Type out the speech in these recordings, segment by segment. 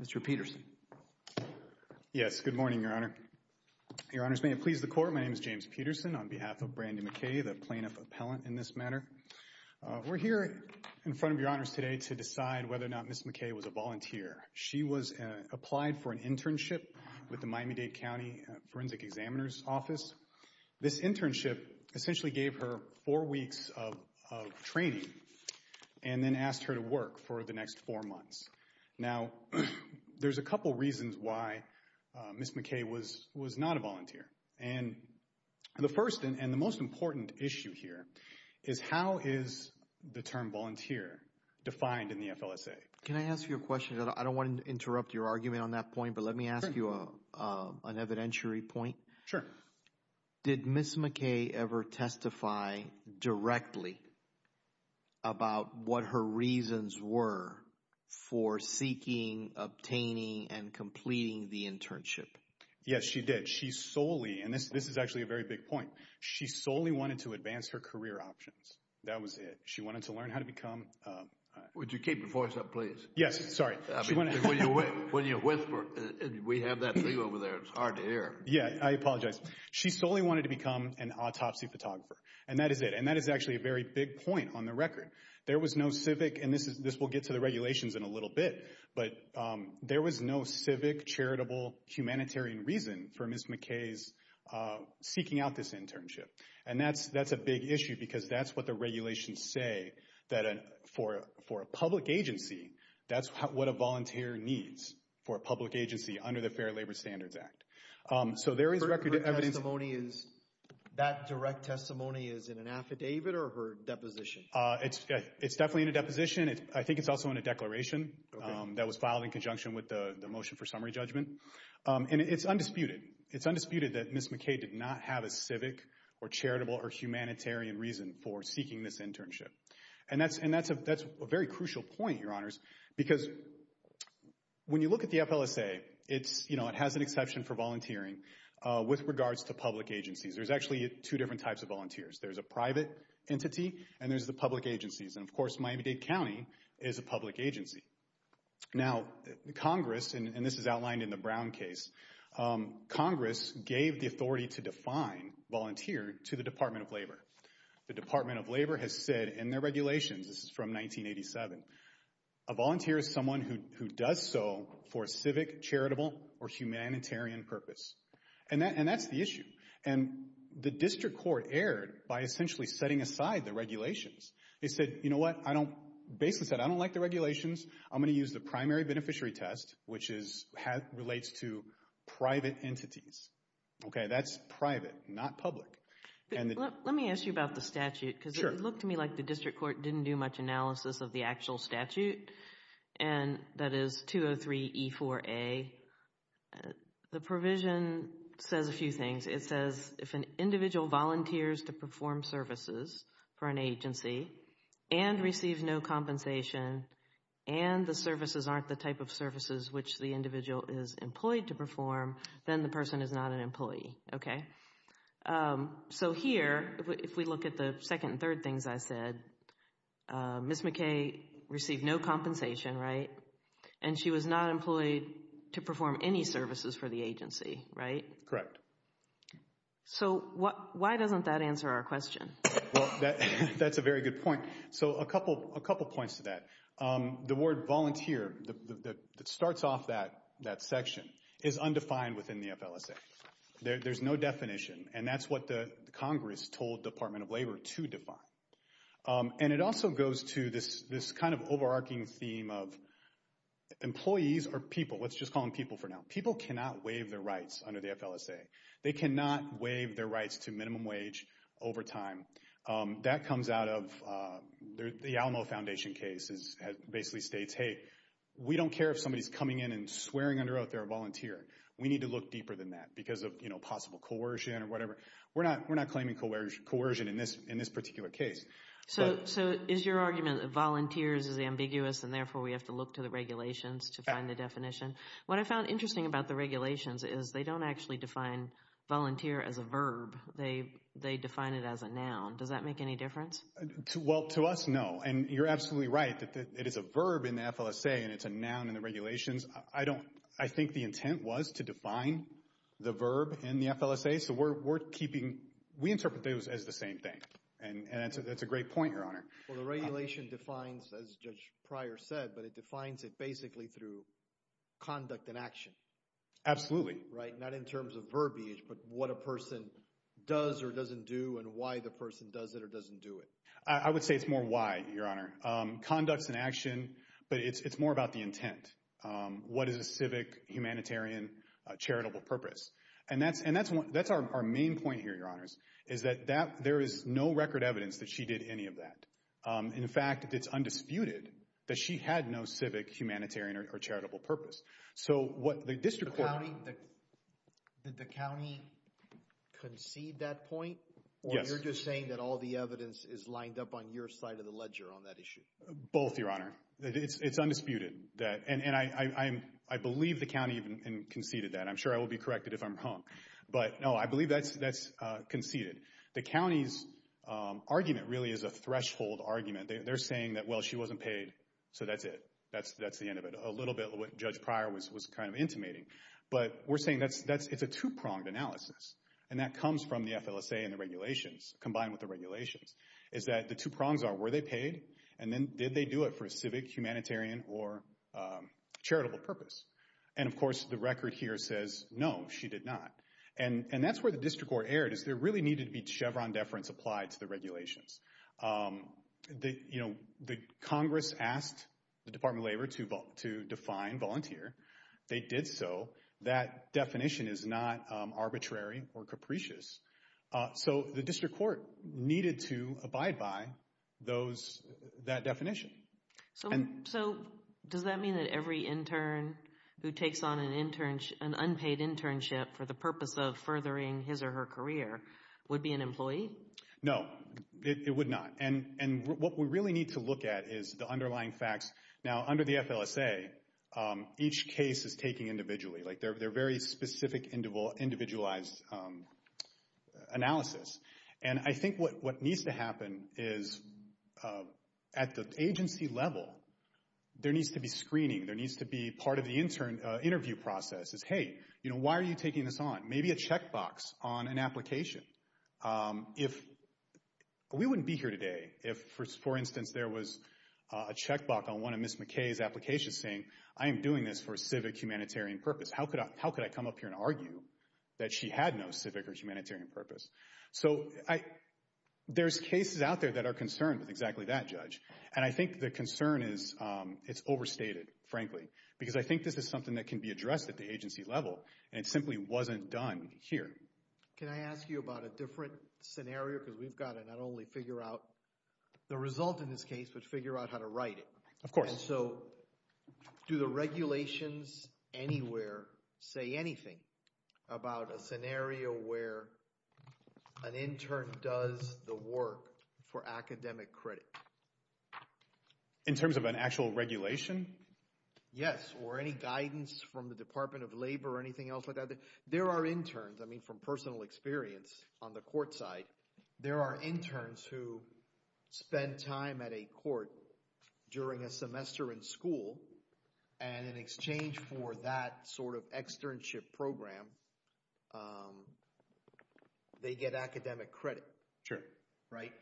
Mr. Peterson Yes, good morning, Your Honor. Your Honors, may it please the Court, my name is James Peterson on behalf of Brandi McKay, the plaintiff appellant in this matter. We're here in front of Your Honors today to decide whether or not Ms. McKay was a volunteer. She was applied for an internship with the Miami-Dade County Forensic Examiner's Office. This internship essentially gave her four weeks of training and then asked her to work for the next four months. Now, there's a couple reasons why Ms. McKay was not a volunteer. And the first and the most important issue here is how is the term volunteer defined in the FLSA? Can I ask you a question? I don't want to interrupt your argument on that point, but let me ask you an evidentiary point. Sure. Did Ms. McKay ever testify directly about what her reasons were for seeking, obtaining, and completing the internship? Yes, she did. She solely, and this is actually a very big point, she solely wanted to advance her career options. That was it. She wanted to learn how to become a... Would you keep your voice up, please? Yes, sorry. When you whisper, we have that thing over there, it's hard to hear. Yeah, I apologize. She solely wanted to become an autopsy photographer, and that is it. And that is actually a very big point on the record. There was no civic, and this will get to the regulations in a little bit, but there was no civic, charitable, humanitarian reason for Ms. McKay's seeking out this internship. And that's a big issue because that's what the regulations say, that for a public agency, that's what a volunteer needs for a public agency under the Fair Labor Standards Act. So there is record evidence... That direct testimony is in an affidavit or her deposition? It's definitely in a deposition. I think it's also in a declaration that was filed in conjunction with the motion for summary judgment. And it's undisputed. It's undisputed that Ms. McKay did not have a civic, or charitable, or humanitarian reason for seeking this internship. And that's a very crucial point, Your Honors, because when you look at the FLSA, it has an exception for volunteering with regards to public agencies. There's actually two different types of volunteers. There's a private entity, and there's the public agencies. And of course, Miami-Dade County is a public agency. Now, Congress, and this is outlined in the Brown case, Congress gave the authority to define volunteer to the Department of Labor. The Department of Labor has said in their regulations, this is from 1987, a volunteer is someone who does so for a civic, charitable, or humanitarian purpose. And that's the issue. And the district court erred by essentially setting aside the regulations. They said, you know what, I don't, basically said, I don't like the regulations. I'm going to use the primary beneficiary test, which relates to private entities. Okay, that's private, not public. Let me ask you about the statute, because it looked to me like the district court didn't do much analysis of the actual statute, and that is 203E4A. The provision says a few things. It says, if an individual volunteers to perform services for an agency, and receives no compensation, and the services aren't the type of services which the individual is employed to perform, then the person is not an employee, okay? So here, if we look at the second and third things I said, Ms. McKay received no compensation, right? And she was not employed to perform any services for the agency, right? Correct. Okay. So why doesn't that answer our question? Well, that's a very good point. So a couple points to that. The word volunteer, that starts off that section, is undefined within the FLSA. There's no definition, and that's what the Congress told the Department of Labor to define. And it also goes to this kind of overarching theme of employees are people, let's just call them people for now. People cannot waive their rights under the FLSA. They cannot waive their rights to minimum wage over time. That comes out of, the Alamo Foundation case basically states, hey, we don't care if somebody's coming in and swearing under oath they're a volunteer. We need to look deeper than that, because of possible coercion or whatever. We're not claiming coercion in this particular case. So is your argument that volunteers is ambiguous, and therefore we have to look to the regulations to find the definition? What I found interesting about the regulations is they don't actually define volunteer as a verb. They define it as a noun. Does that make any difference? Well, to us, no. And you're absolutely right that it is a verb in the FLSA, and it's a noun in the regulations. I think the intent was to define the verb in the FLSA, so we interpret those as the same thing. And that's a great point, Your Honor. Well, the regulation defines, as Judge Pryor said, but it defines it basically through conduct and action. Absolutely. Right? Not in terms of verbiage, but what a person does or doesn't do, and why the person does it or doesn't do it. I would say it's more why, Your Honor. Conducts and action, but it's more about the intent. What is a civic, humanitarian, charitable purpose? And that's our main point here, Your Honors, is that there is no record evidence that she did any of that. In fact, it's undisputed that she had no civic, humanitarian, or charitable purpose. So what the district court... The county... Did the county concede that point? Yes. Or you're just saying that all the evidence is lined up on your side of the ledger on that issue? Both, Your Honor. It's undisputed. And I believe the county even conceded that. I'm sure I will be corrected if I'm wrong. But no, I believe that's conceded. The county's argument really is a threshold argument. They're saying that, well, she wasn't paid, so that's it. That's the end of it. A little bit of what Judge Pryor was kind of intimating. But we're saying it's a two-pronged analysis. And that comes from the FLSA and the regulations, combined with the regulations, is that the two prongs are, were they paid? And then, did they do it for a civic, humanitarian, or charitable purpose? And of course, the record here says, no, she did not. And that's where the district court erred, is there really needed to be Chevron deference applied to the regulations. The Congress asked the Department of Labor to define volunteer. They did so. That definition is not arbitrary or capricious. So the district court needed to abide by that definition. So, does that mean that every intern who takes on an unpaid internship for the purpose of furthering his or her career would be an employee? No, it would not. And what we really need to look at is the underlying facts. Now, under the FLSA, each case is taken individually. They're very specific, individualized analysis. And I think what needs to happen is, at the agency level, there needs to be screening. There needs to be part of the interview process is, hey, you know, why are you taking this on? Maybe a checkbox on an application. If, we wouldn't be here today if, for instance, there was a checkbox on one of Ms. McKay's applications saying, I am doing this for a civic, humanitarian purpose. How could I come up here and argue that she had no civic or humanitarian purpose? So, there's cases out there that are concerned with exactly that, Judge. And I think the concern is, it's overstated, frankly. Because I think this is something that can be addressed at the agency level, and it simply wasn't done here. Can I ask you about a different scenario? Because we've got to not only figure out the result in this case, but figure out how to write it. Of course. And so, do the regulations anywhere say anything about a scenario where an intern does the work for academic credit? In terms of an actual regulation? Yes, or any guidance from the Department of Labor or anything else like that. There are interns, I mean, from personal experience on the court side, there are interns who spend time at a court during a semester in school. And in exchange for that sort of externship program, they get academic credit. Sure. Right?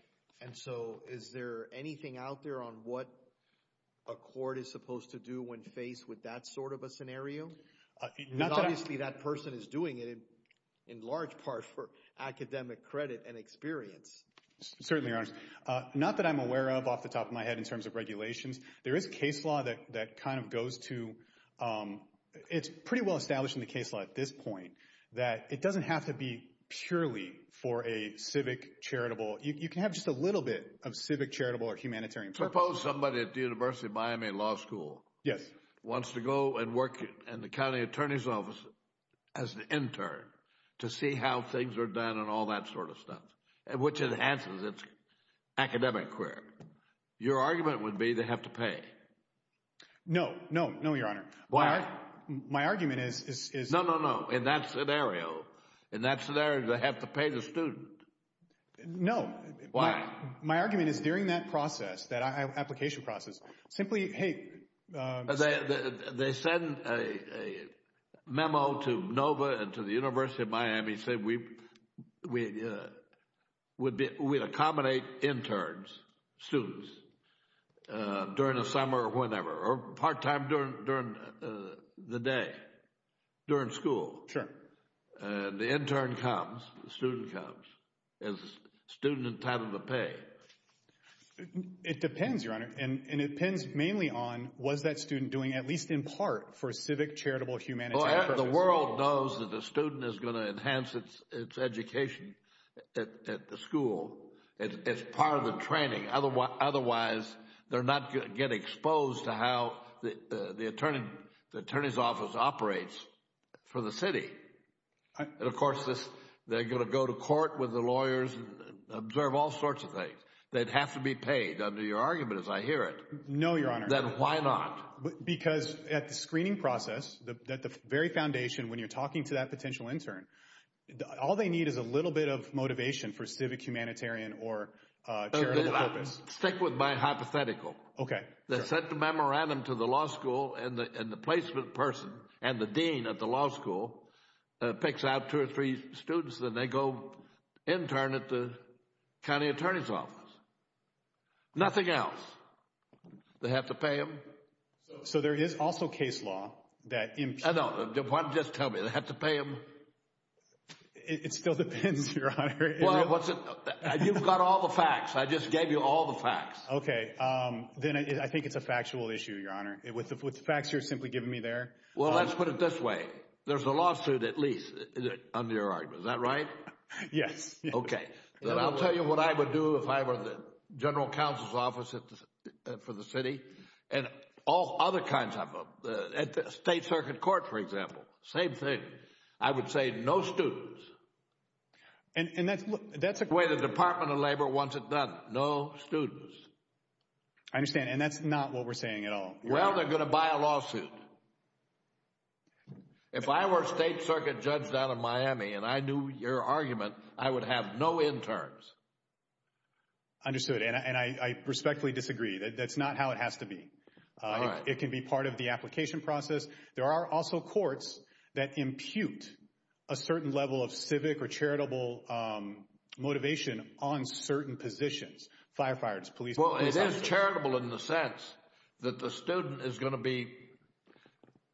And so, is there anything out there on what a court is supposed to do when faced with that sort of a scenario? Not that- Because obviously that person is doing it, in large part, for academic credit and experience. Certainly, Your Honor. Not that I'm aware of off the top of my head in terms of regulations. There is case law that kind of goes to, it's pretty well established in the case law at this point, that it doesn't have to be purely for a civic charitable. You can have just a little bit of civic charitable or humanitarian- Suppose somebody at the University of Miami Law School- Yes. Wants to go and work in the county attorney's office as an intern to see how things are done and all that sort of stuff, which enhances its academic career. Your argument would be they have to pay. No. No. No, Your Honor. Why? My argument is- No, no, no. In that scenario, in that scenario, they have to pay the student. No. Why? My argument is during that process, that application process, simply, hey- They send a memo to NOVA and to the University of Miami, saying we would accommodate interns, students, during the summer or whenever, or part-time during the day, during school. Sure. And the intern comes, the student comes, is the student entitled to pay? It depends, Your Honor. And it depends mainly on, was that student doing at least in part for a civic charitable humanitarian purpose? The world knows that the student is going to enhance its education at the school. It's part of the training, otherwise, they're not going to get exposed to how the attorney's office operates for the city. And of course, they're going to go to court with the lawyers and observe all sorts of things. They'd have to be paid, under your argument, as I hear it. No, Your Honor. Then why not? Because at the screening process, at the very foundation, when you're talking to that potential intern, all they need is a little bit of motivation for civic humanitarian or charitable purpose. Stick with my hypothetical. Okay. They sent the memorandum to the law school and the placement person and the dean of the law school picks out two or three students and they go intern at the county attorney's office. Nothing else. They have to pay them. So there is also case law that... No, why don't you just tell me, they have to pay them? It still depends, Your Honor. Well, you've got all the facts. I just gave you all the facts. Okay, then I think it's a factual issue, Your Honor. With the facts you're simply giving me there. Well, let's put it this way. There's a lawsuit, at least, under your argument. Is that right? Yes. Okay, then I'll tell you what I would do if I were the general counsel's office for the city and all other kinds of... At the state circuit court, for example, same thing. I would say no students. And that's a way the Department of Labor wants it done. No students. I understand. And that's not what we're saying at all. Well, they're going to buy a lawsuit. If I were a state circuit judge down in Miami and I knew your argument, I would have no interns. Understood. And I respectfully disagree. That's not how it has to be. All right. It can be part of the application process. There are also courts that impute a certain level of civic or charitable motivation on certain positions. Firefighters, police officers. Well, it is charitable in the sense that the student is going to be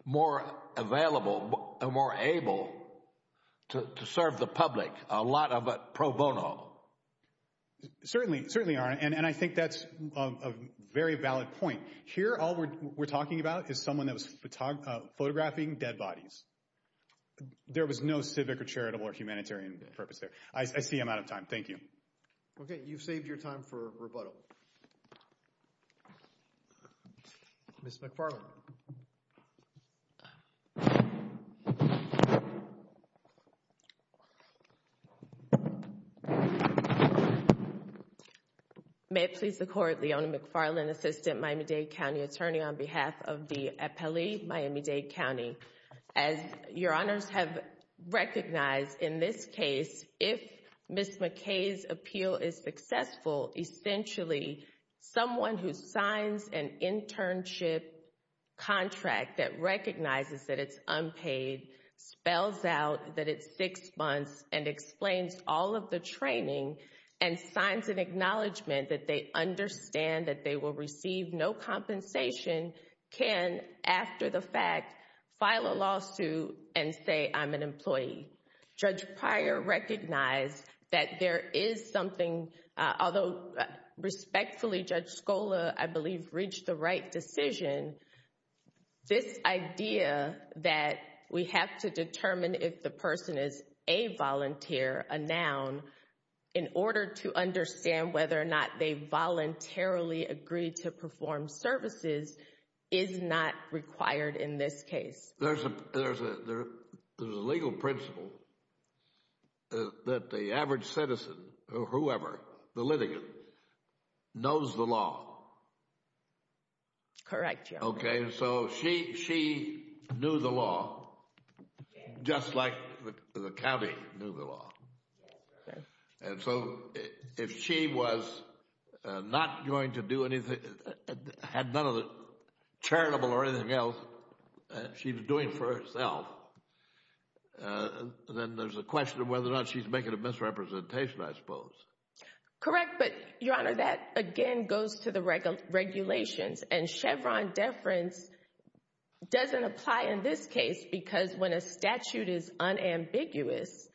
more available and more able to serve the public. A lot of it pro bono. It certainly are. And I think that's a very valid point. Here, all we're talking about is someone that was photographing dead bodies. There was no civic or charitable or humanitarian purpose there. I see I'm out of time. Thank you. Okay. You've saved your time for rebuttal. Ms. McFarland. Thank you. May it please the Court. Leona McFarland, Assistant Miami-Dade County Attorney on behalf of the appellee, Miami-Dade County. As your honors have recognized in this case, if Ms. McKay's appeal is successful, essentially someone who signs an internship contract that recognizes that it's unpaid, spells out that it's six months and explains all of the training and signs an acknowledgment that they understand that they will receive no compensation, can, after the fact, file a lawsuit and say, I'm an employee. Judge Pryor recognized that there is something, although respectfully Judge McFarland, this idea that we have to determine if the person is a volunteer, a noun, in order to understand whether or not they voluntarily agree to perform services is not required in this case. There's a legal principle that the average citizen or whoever, the litigant, knows the law. Correct, Your Honor. Okay, so she knew the law just like the county knew the law. And so if she was not going to do anything, had none of the charitable or anything else she was doing for herself, then there's a question of whether or not she's making a misrepresentation, I suppose. Correct, but, Your Honor, that, again, goes to the regulations. And Chevron deference doesn't apply in this case because when a statute is unambiguous,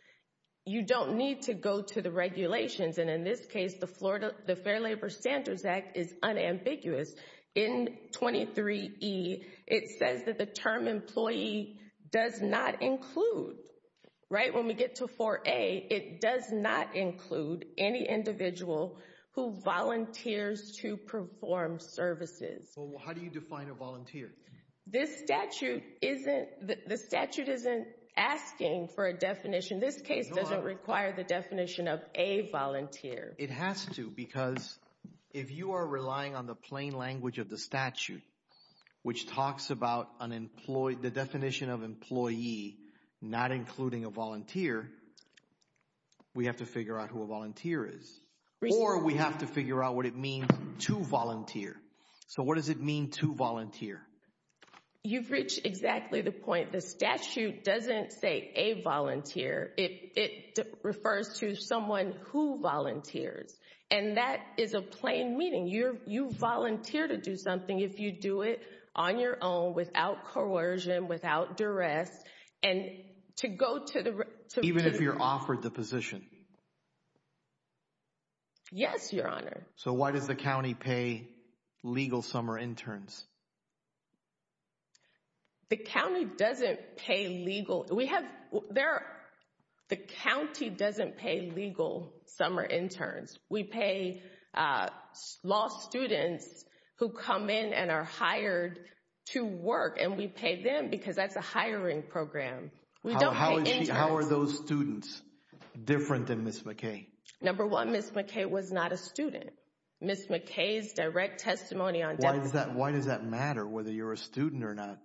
you don't need to go to the regulations. And in this case, the Fair Labor Standards Act is unambiguous. In 23E, it says that the term employee does not include, right? When we get to 4A, it does not include any individual who volunteers to perform services. How do you define a volunteer? This statute isn't, the statute isn't asking for a definition. This case doesn't require the definition of a volunteer. It has to because if you are relying on the plain language of the statute, which talks about the definition of employee not including a volunteer, we have to figure out who a volunteer is. Or we have to figure out what it means to volunteer. So what does it mean to volunteer? You've reached exactly the point. The statute doesn't say a volunteer. It refers to someone who volunteers. And that is a plain meaning. You volunteer to do something. If you do it on your own, without coercion, without duress, and to go to the- Even if you're offered the position? Yes, Your Honor. So why does the county pay legal summer interns? The county doesn't pay legal. We have, the county doesn't pay legal summer interns. We pay law students who come in and are hired to work. And we pay them because that's a hiring program. We don't pay interns. How are those students different than Ms. McKay? Number one, Ms. McKay was not a student. Ms. McKay's direct testimony on- Why does that matter whether you're a student or not?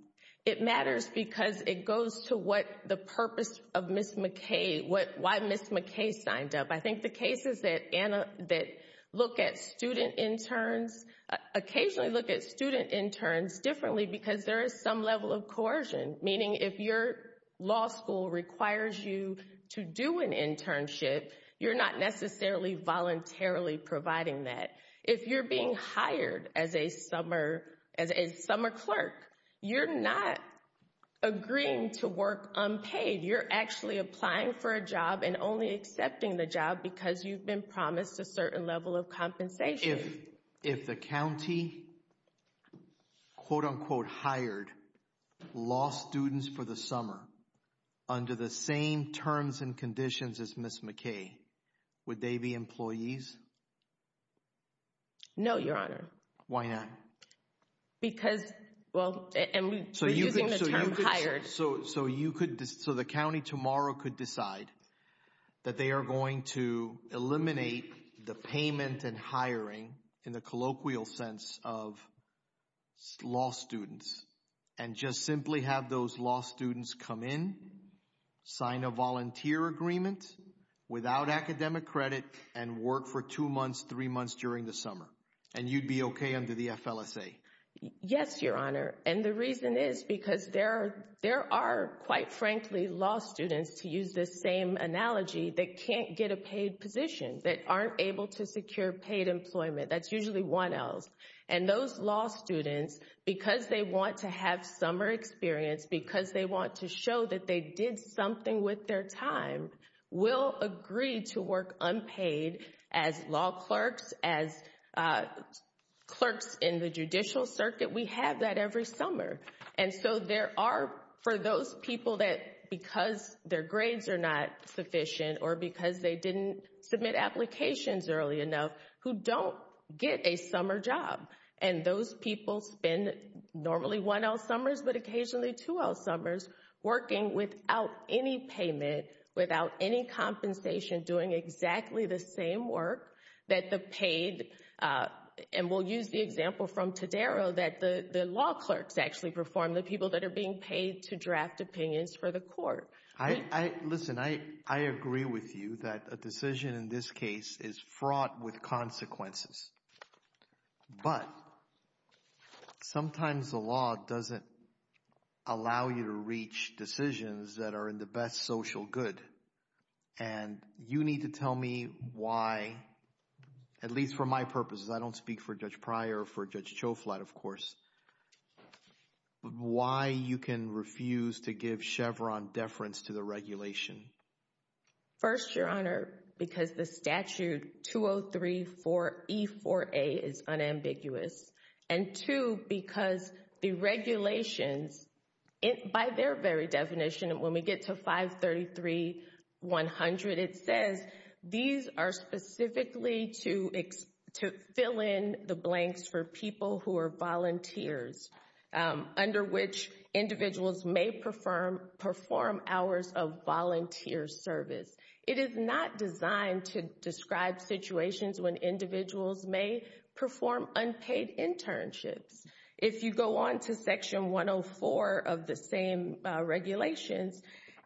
It matters because it goes to what the purpose of Ms. McKay, why Ms. McKay signed up. I think the cases that look at student interns, occasionally look at student interns differently because there is some level of coercion. Meaning if your law school requires you to do an internship, you're not necessarily voluntarily providing that. If you're being hired as a summer clerk, you're not agreeing to work unpaid. You're actually applying for a job and only accepting the job because you've been promised a certain level of compensation. If the county, quote unquote, hired law students for the summer under the same terms and conditions as Ms. McKay, would they be employees? No, Your Honor. Why not? Because, well, and we're using the term hired. So the county tomorrow could decide that they are going to eliminate the payment and hiring in the colloquial sense of law students and just simply have those law students come in, sign a volunteer agreement without academic credit, and work for two months, three months during the summer. And you'd be okay under the FLSA? Yes, Your Honor. And the reason is because there are, quite frankly, law students, to use the same analogy, that can't get a paid position, that aren't able to secure paid employment. That's usually 1Ls. And those law students, because they want to have summer experience, because they want to show that they did something with their time, will agree to work unpaid as law clerks, as clerks in the judicial circuit. We have that every summer. And so there are, for those people that, because their grades are not sufficient, or because they didn't submit applications early enough, who don't get a summer job. And those people spend normally 1L summers, but occasionally 2L summers, working without any payment, without any compensation, doing exactly the same work that the paid, and we'll use the example from Todaro, that the law clerks actually perform, the people that are being paid to draft opinions for the court. Listen, I agree with you that a decision in this case is fraught with consequences. But sometimes the law doesn't allow you to reach decisions that are in the best social good. And you need to tell me why, at least for my purposes, I don't speak for Judge Pryor, for Judge Choflat, of course, why you can refuse to give Chevron deference to the regulation. First, Your Honor, because the statute 203-4E-4A is unambiguous. And two, because the regulations, by their very definition, when we get to 533-100, it for people who are volunteers, under which individuals may perform hours of volunteer service. It is not designed to describe situations when individuals may perform unpaid internships. If you go on to Section 104 of the same regulations,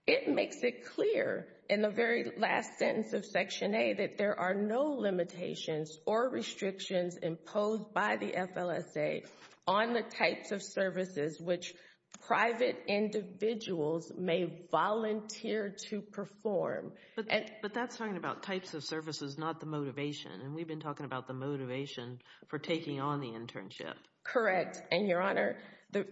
it makes it clear in the very last of Section A that there are no limitations or restrictions imposed by the FLSA on the types of services which private individuals may volunteer to perform. But that's talking about types of services, not the motivation. And we've been talking about the motivation for taking on the internship. Correct. And Your Honor, the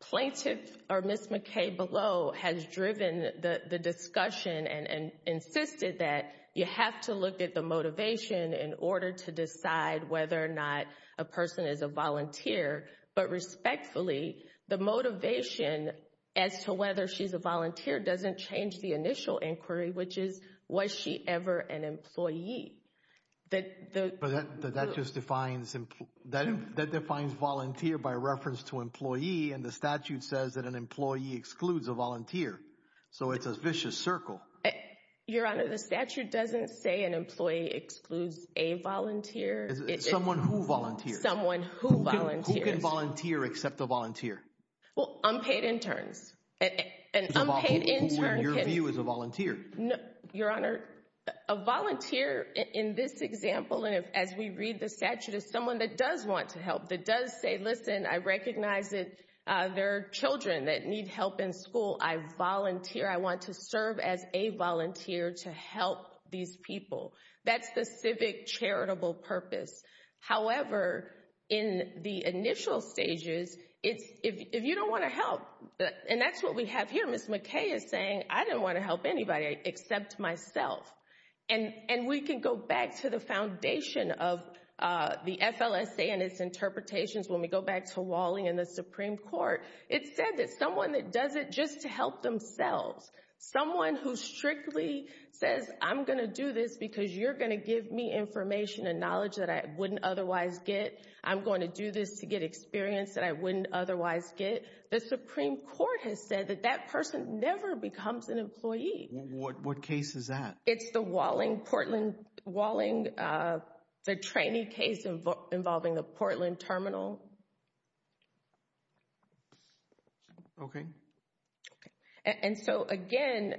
plaintiff, or Ms. McKay below, has driven the discussion and insisted that you have to look at the motivation in order to decide whether or not a person is a volunteer. But respectfully, the motivation as to whether she's a volunteer doesn't change the initial inquiry, which is, was she ever an employee? But that just defines, that defines volunteer by reference to employee, and the statute says that an employee excludes a volunteer. So it's a vicious circle. Your Honor, the statute doesn't say an employee excludes a volunteer. Someone who volunteers. Someone who volunteers. Who can volunteer except a volunteer? Well, unpaid interns. An unpaid intern who, in your view, is a volunteer. Your Honor, a volunteer, in this example, and as we read the statute, is someone that does want to help, that does say, listen, I recognize that there are children that need help in school. I volunteer. I want to serve as a volunteer to help these people. That's the civic charitable purpose. However, in the initial stages, if you don't want to help, and that's what we have here. Ms. McKay is saying, I didn't want to help anybody except myself, and we can go back to the foundation of the FLSA and its interpretations when we go back to Wally and the Supreme Court. It said that someone that does it just to help themselves, someone who strictly says, I'm going to do this because you're going to give me information and knowledge that I wouldn't otherwise get. I'm going to do this to get experience that I wouldn't otherwise get. The Supreme Court has said that that person never becomes an employee. What case is that? It's the Walling, Portland, Walling, the trainee case involving the Portland Terminal. Okay. And so, again,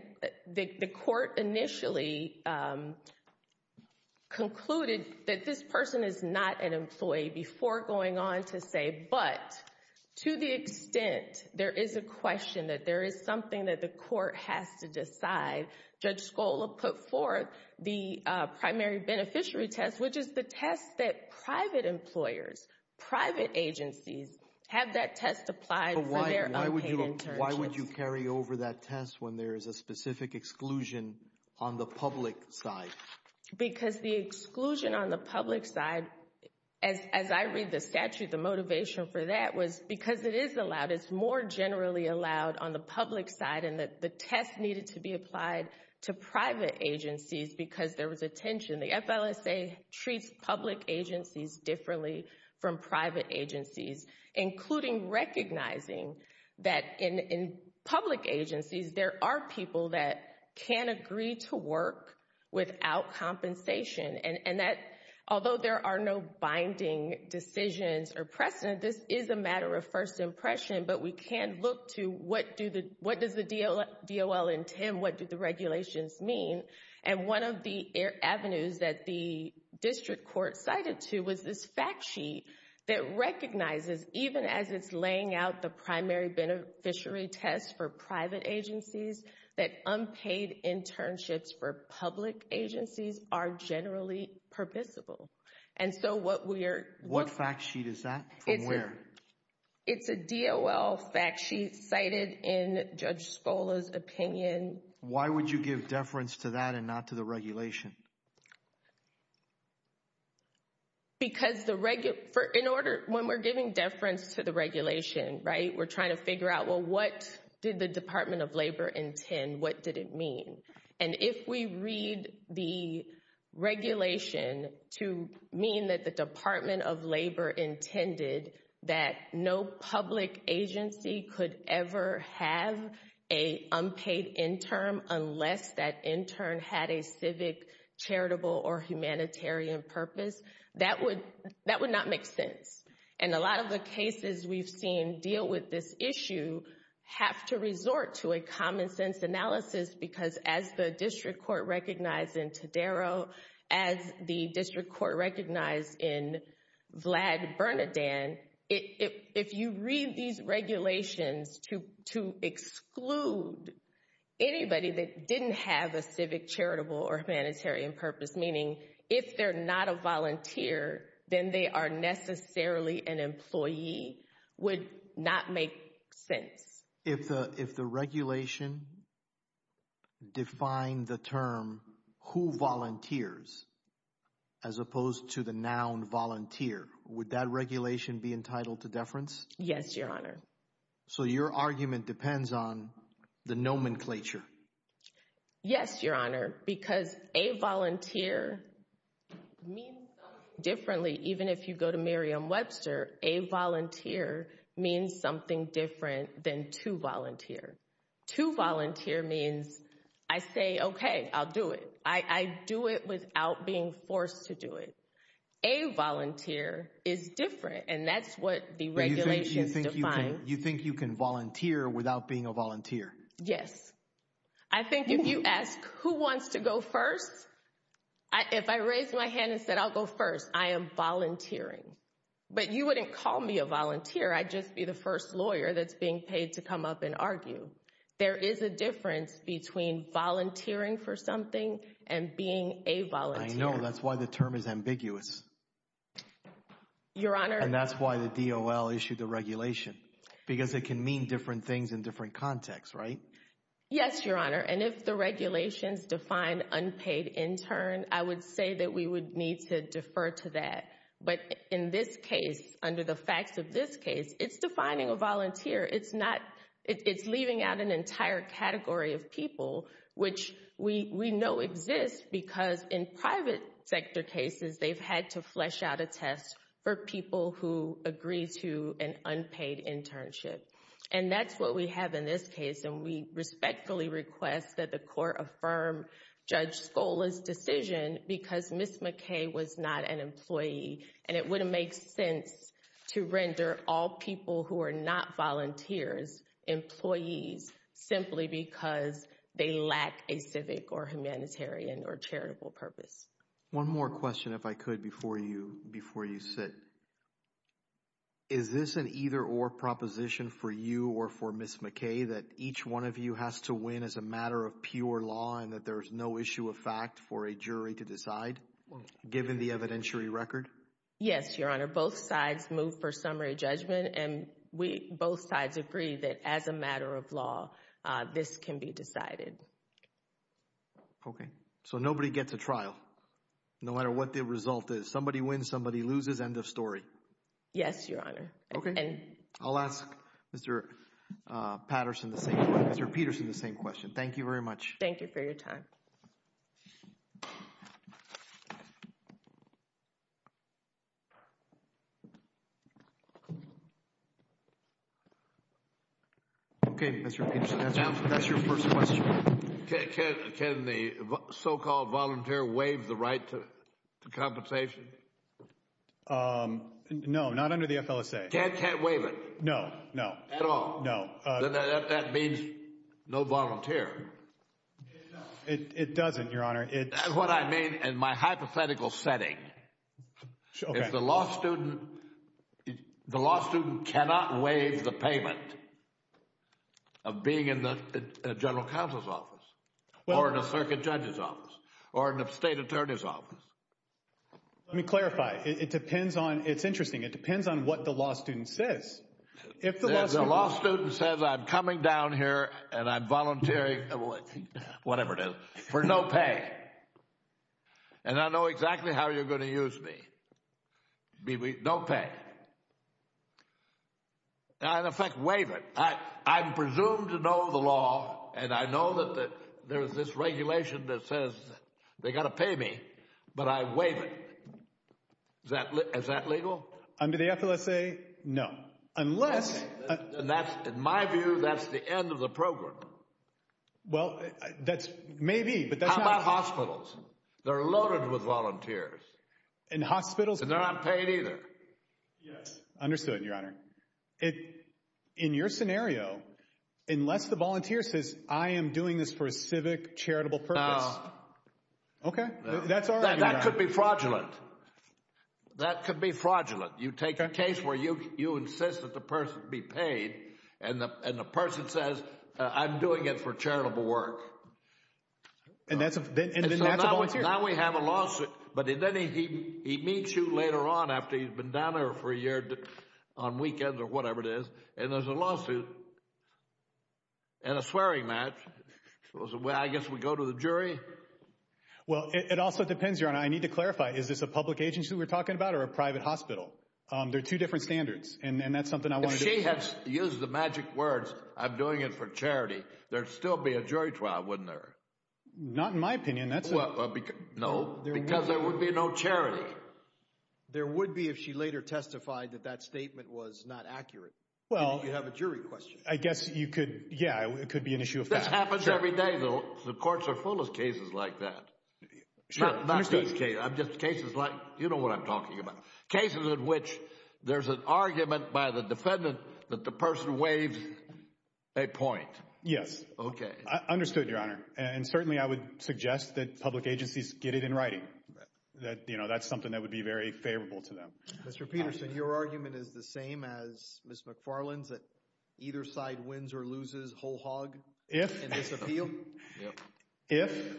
the Court initially concluded that this person is not an employee before going on to say, but to the extent there is a question that there is something that the Court has to decide, Judge Scola put forth the primary beneficiary test, which is the test that private employers, private agencies have that test applied for their unpaid internships. Why would you carry over that test when there is a specific exclusion on the public side? Because the exclusion on the public side, as I read the statute, the motivation for that was because it is allowed. It's more generally allowed on the public side and that the test needed to be applied to private agencies because there was a tension. The FLSA treats public agencies differently from private agencies, including recognizing that in public agencies, there are people that can agree to work without compensation. Although there are no binding decisions or precedent, this is a matter of first impression, but we can look to what does the DOL intend? What do the regulations mean? One of the avenues that the District Court cited to was this fact sheet that recognizes, even as it's laying out the primary beneficiary test for private agencies, that unpaid internships for public agencies are generally permissible. What fact sheet is that? From where? It's a DOL fact sheet cited in Judge Scola's opinion. Why would you give deference to that and not to the regulation? Because when we're giving deference to the regulation, right, we're trying to figure out, well, what did the Department of Labor intend? What did it mean? And if we read the regulation to mean that the Department of Labor intended that no public agency could ever have an unpaid intern unless that intern had a civic, charitable, or humanitarian purpose, that would not make sense. And a lot of the cases we've seen deal with this issue have to resort to a common sense analysis because as the District Court recognized in Tadaro, as the District Court recognized in Vlad Bernadine, if you read these regulations to exclude anybody that didn't have a civic, charitable, or humanitarian purpose, meaning if they're not a volunteer, then they are necessarily an employee, would not make sense. If the regulation defined the term, who volunteers, as opposed to the noun volunteer, would that regulation be entitled to deference? Yes, Your Honor. So your argument depends on the nomenclature? Yes, Your Honor, because a volunteer means something differently. A volunteer is different, and that's what the regulations define. You think you can volunteer without being a volunteer? Yes. I think if you ask who wants to go first, if I raised my hand and said I'll go first, I am volunteering, but you wouldn't call me a volunteer, I'd just be the first lawyer that's being paid to come up and argue. There is a difference between volunteering for something and being a volunteer. I know, that's why the term is ambiguous. Your Honor. And that's why the DOL issued the regulation, because it can mean different things in different contexts, right? Yes, Your Honor, and if the regulations define unpaid intern, I would say that we would need to defer to that. But in this case, under the facts of this case, it's defining a volunteer. It's not, it's leaving out an entire category of people, which we know exists because in private sector cases, they've had to flesh out a test for people who agree to an unpaid internship. And that's what we have in this case, and we respectfully request that the court affirm Judge Scola's decision because Ms. McKay was not an employee, and it wouldn't make sense to render all people who are not volunteers, employees, simply because they lack a civic or humanitarian or charitable purpose. One more question, if I could, before you sit. Is this an either-or proposition for you or for Ms. McKay, that each one of you has to support pure law and that there's no issue of fact for a jury to decide, given the evidentiary record? Yes, Your Honor, both sides move for summary judgment, and we, both sides agree that as a matter of law, this can be decided. Okay, so nobody gets a trial, no matter what the result is. Somebody wins, somebody loses, end of story. Yes, Your Honor. Okay, I'll ask Mr. Patterson the same, Mr. Peterson the same question. Thank you very much. Thank you for your time. Okay, Mr. Peterson, that's your first question. Can the so-called volunteer waive the right to compensation? No, not under the FLSA. Can't waive it? No, no. At all? No. That means no volunteer. It doesn't, Your Honor. That's what I mean in my hypothetical setting. If the law student, the law student cannot waive the payment of being in the general counsel's office or in a circuit judge's office or in a state attorney's office. Let me clarify. It depends on, it's interesting, it depends on what the law student says. If the law student says, I'm coming down here and I'm volunteering, whatever it is, for no pay and I know exactly how you're going to use me, no pay, I in effect waive it. I'm presumed to know the law and I know that there's this regulation that says they got to pay me, but I waive it. Is that legal? Under the FLSA, no. Unless... And that's, in my view, that's the end of the program. Well, that's, maybe, but that's not... How about hospitals? They're loaded with volunteers. And hospitals... And they're not paid either. Yes, understood, Your Honor. In your scenario, unless the volunteer says, I am doing this for a civic, charitable purpose... No. Okay, that's all right, Your Honor. That could be fraudulent. That could be fraudulent. You take a case where you insist that the person be paid and the person says, I'm doing it for charitable work. And that's a volunteer? Now we have a lawsuit, but then he meets you later on after he's been down there for a year on weekends or whatever it is and there's a lawsuit and a swearing match. I guess we go to the jury? Well, it also depends, Your Honor. I need to clarify. Is this a public agency we're talking about or a private hospital? They're two different standards. And that's something I wanted to... If she had used the magic words, I'm doing it for charity, there'd still be a jury trial, wouldn't there? Not in my opinion. That's... No, because there would be no charity. There would be if she later testified that that statement was not accurate. Well... You have a jury question. I guess you could... Yeah, it could be an issue of fact. This happens every day, though. The courts are full of cases like that. Sure, understood. I'm just... Cases like... You know what I'm talking about. Cases in which there's an argument by the defendant that the person waives a point. Yes. I understood, Your Honor. And certainly, I would suggest that public agencies get it in writing. That, you know, that's something that would be very favorable to them. Mr. Peterson, your argument is the same as Ms. McFarland's, that either side wins or loses whole hog in this appeal? If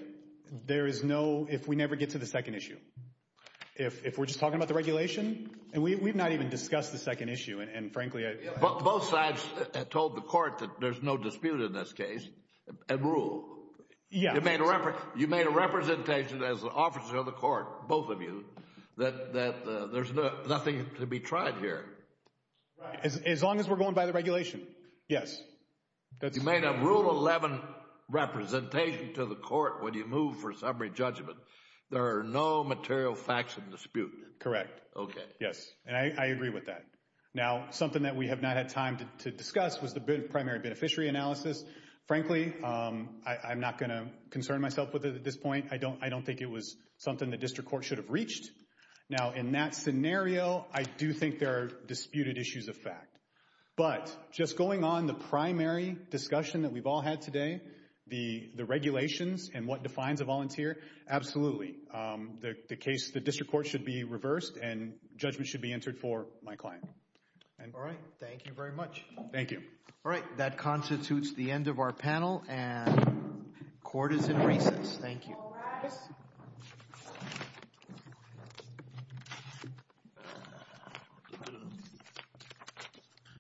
there is no... If we never get to the second issue. If we're just talking about the regulation. And we've not even discussed the second issue. And frankly, I... Both sides have told the court that there's no dispute in this case and rule. Yeah. You made a representation as an officer of the court, both of you, that there's nothing to be tried here. As long as we're going by the regulation. Yes. You made a Rule 11 representation to the court when you move for summary judgment. There are no material facts of dispute. Correct. Okay. Yes. And I agree with that. Now, something that we have not had time to discuss was the primary beneficiary analysis. Frankly, I'm not going to concern myself with it at this point. I don't think it was something the district court should have reached. Now, in that scenario, I do think there are disputed issues of fact. But just going on the primary discussion that we've all had today, the regulations and what defines a volunteer. Absolutely. The case... The district court should be reversed and judgment should be entered for my client. All right. Thank you very much. Thank you. All right. That constitutes the end of our panel. And court is in recess. Thank you.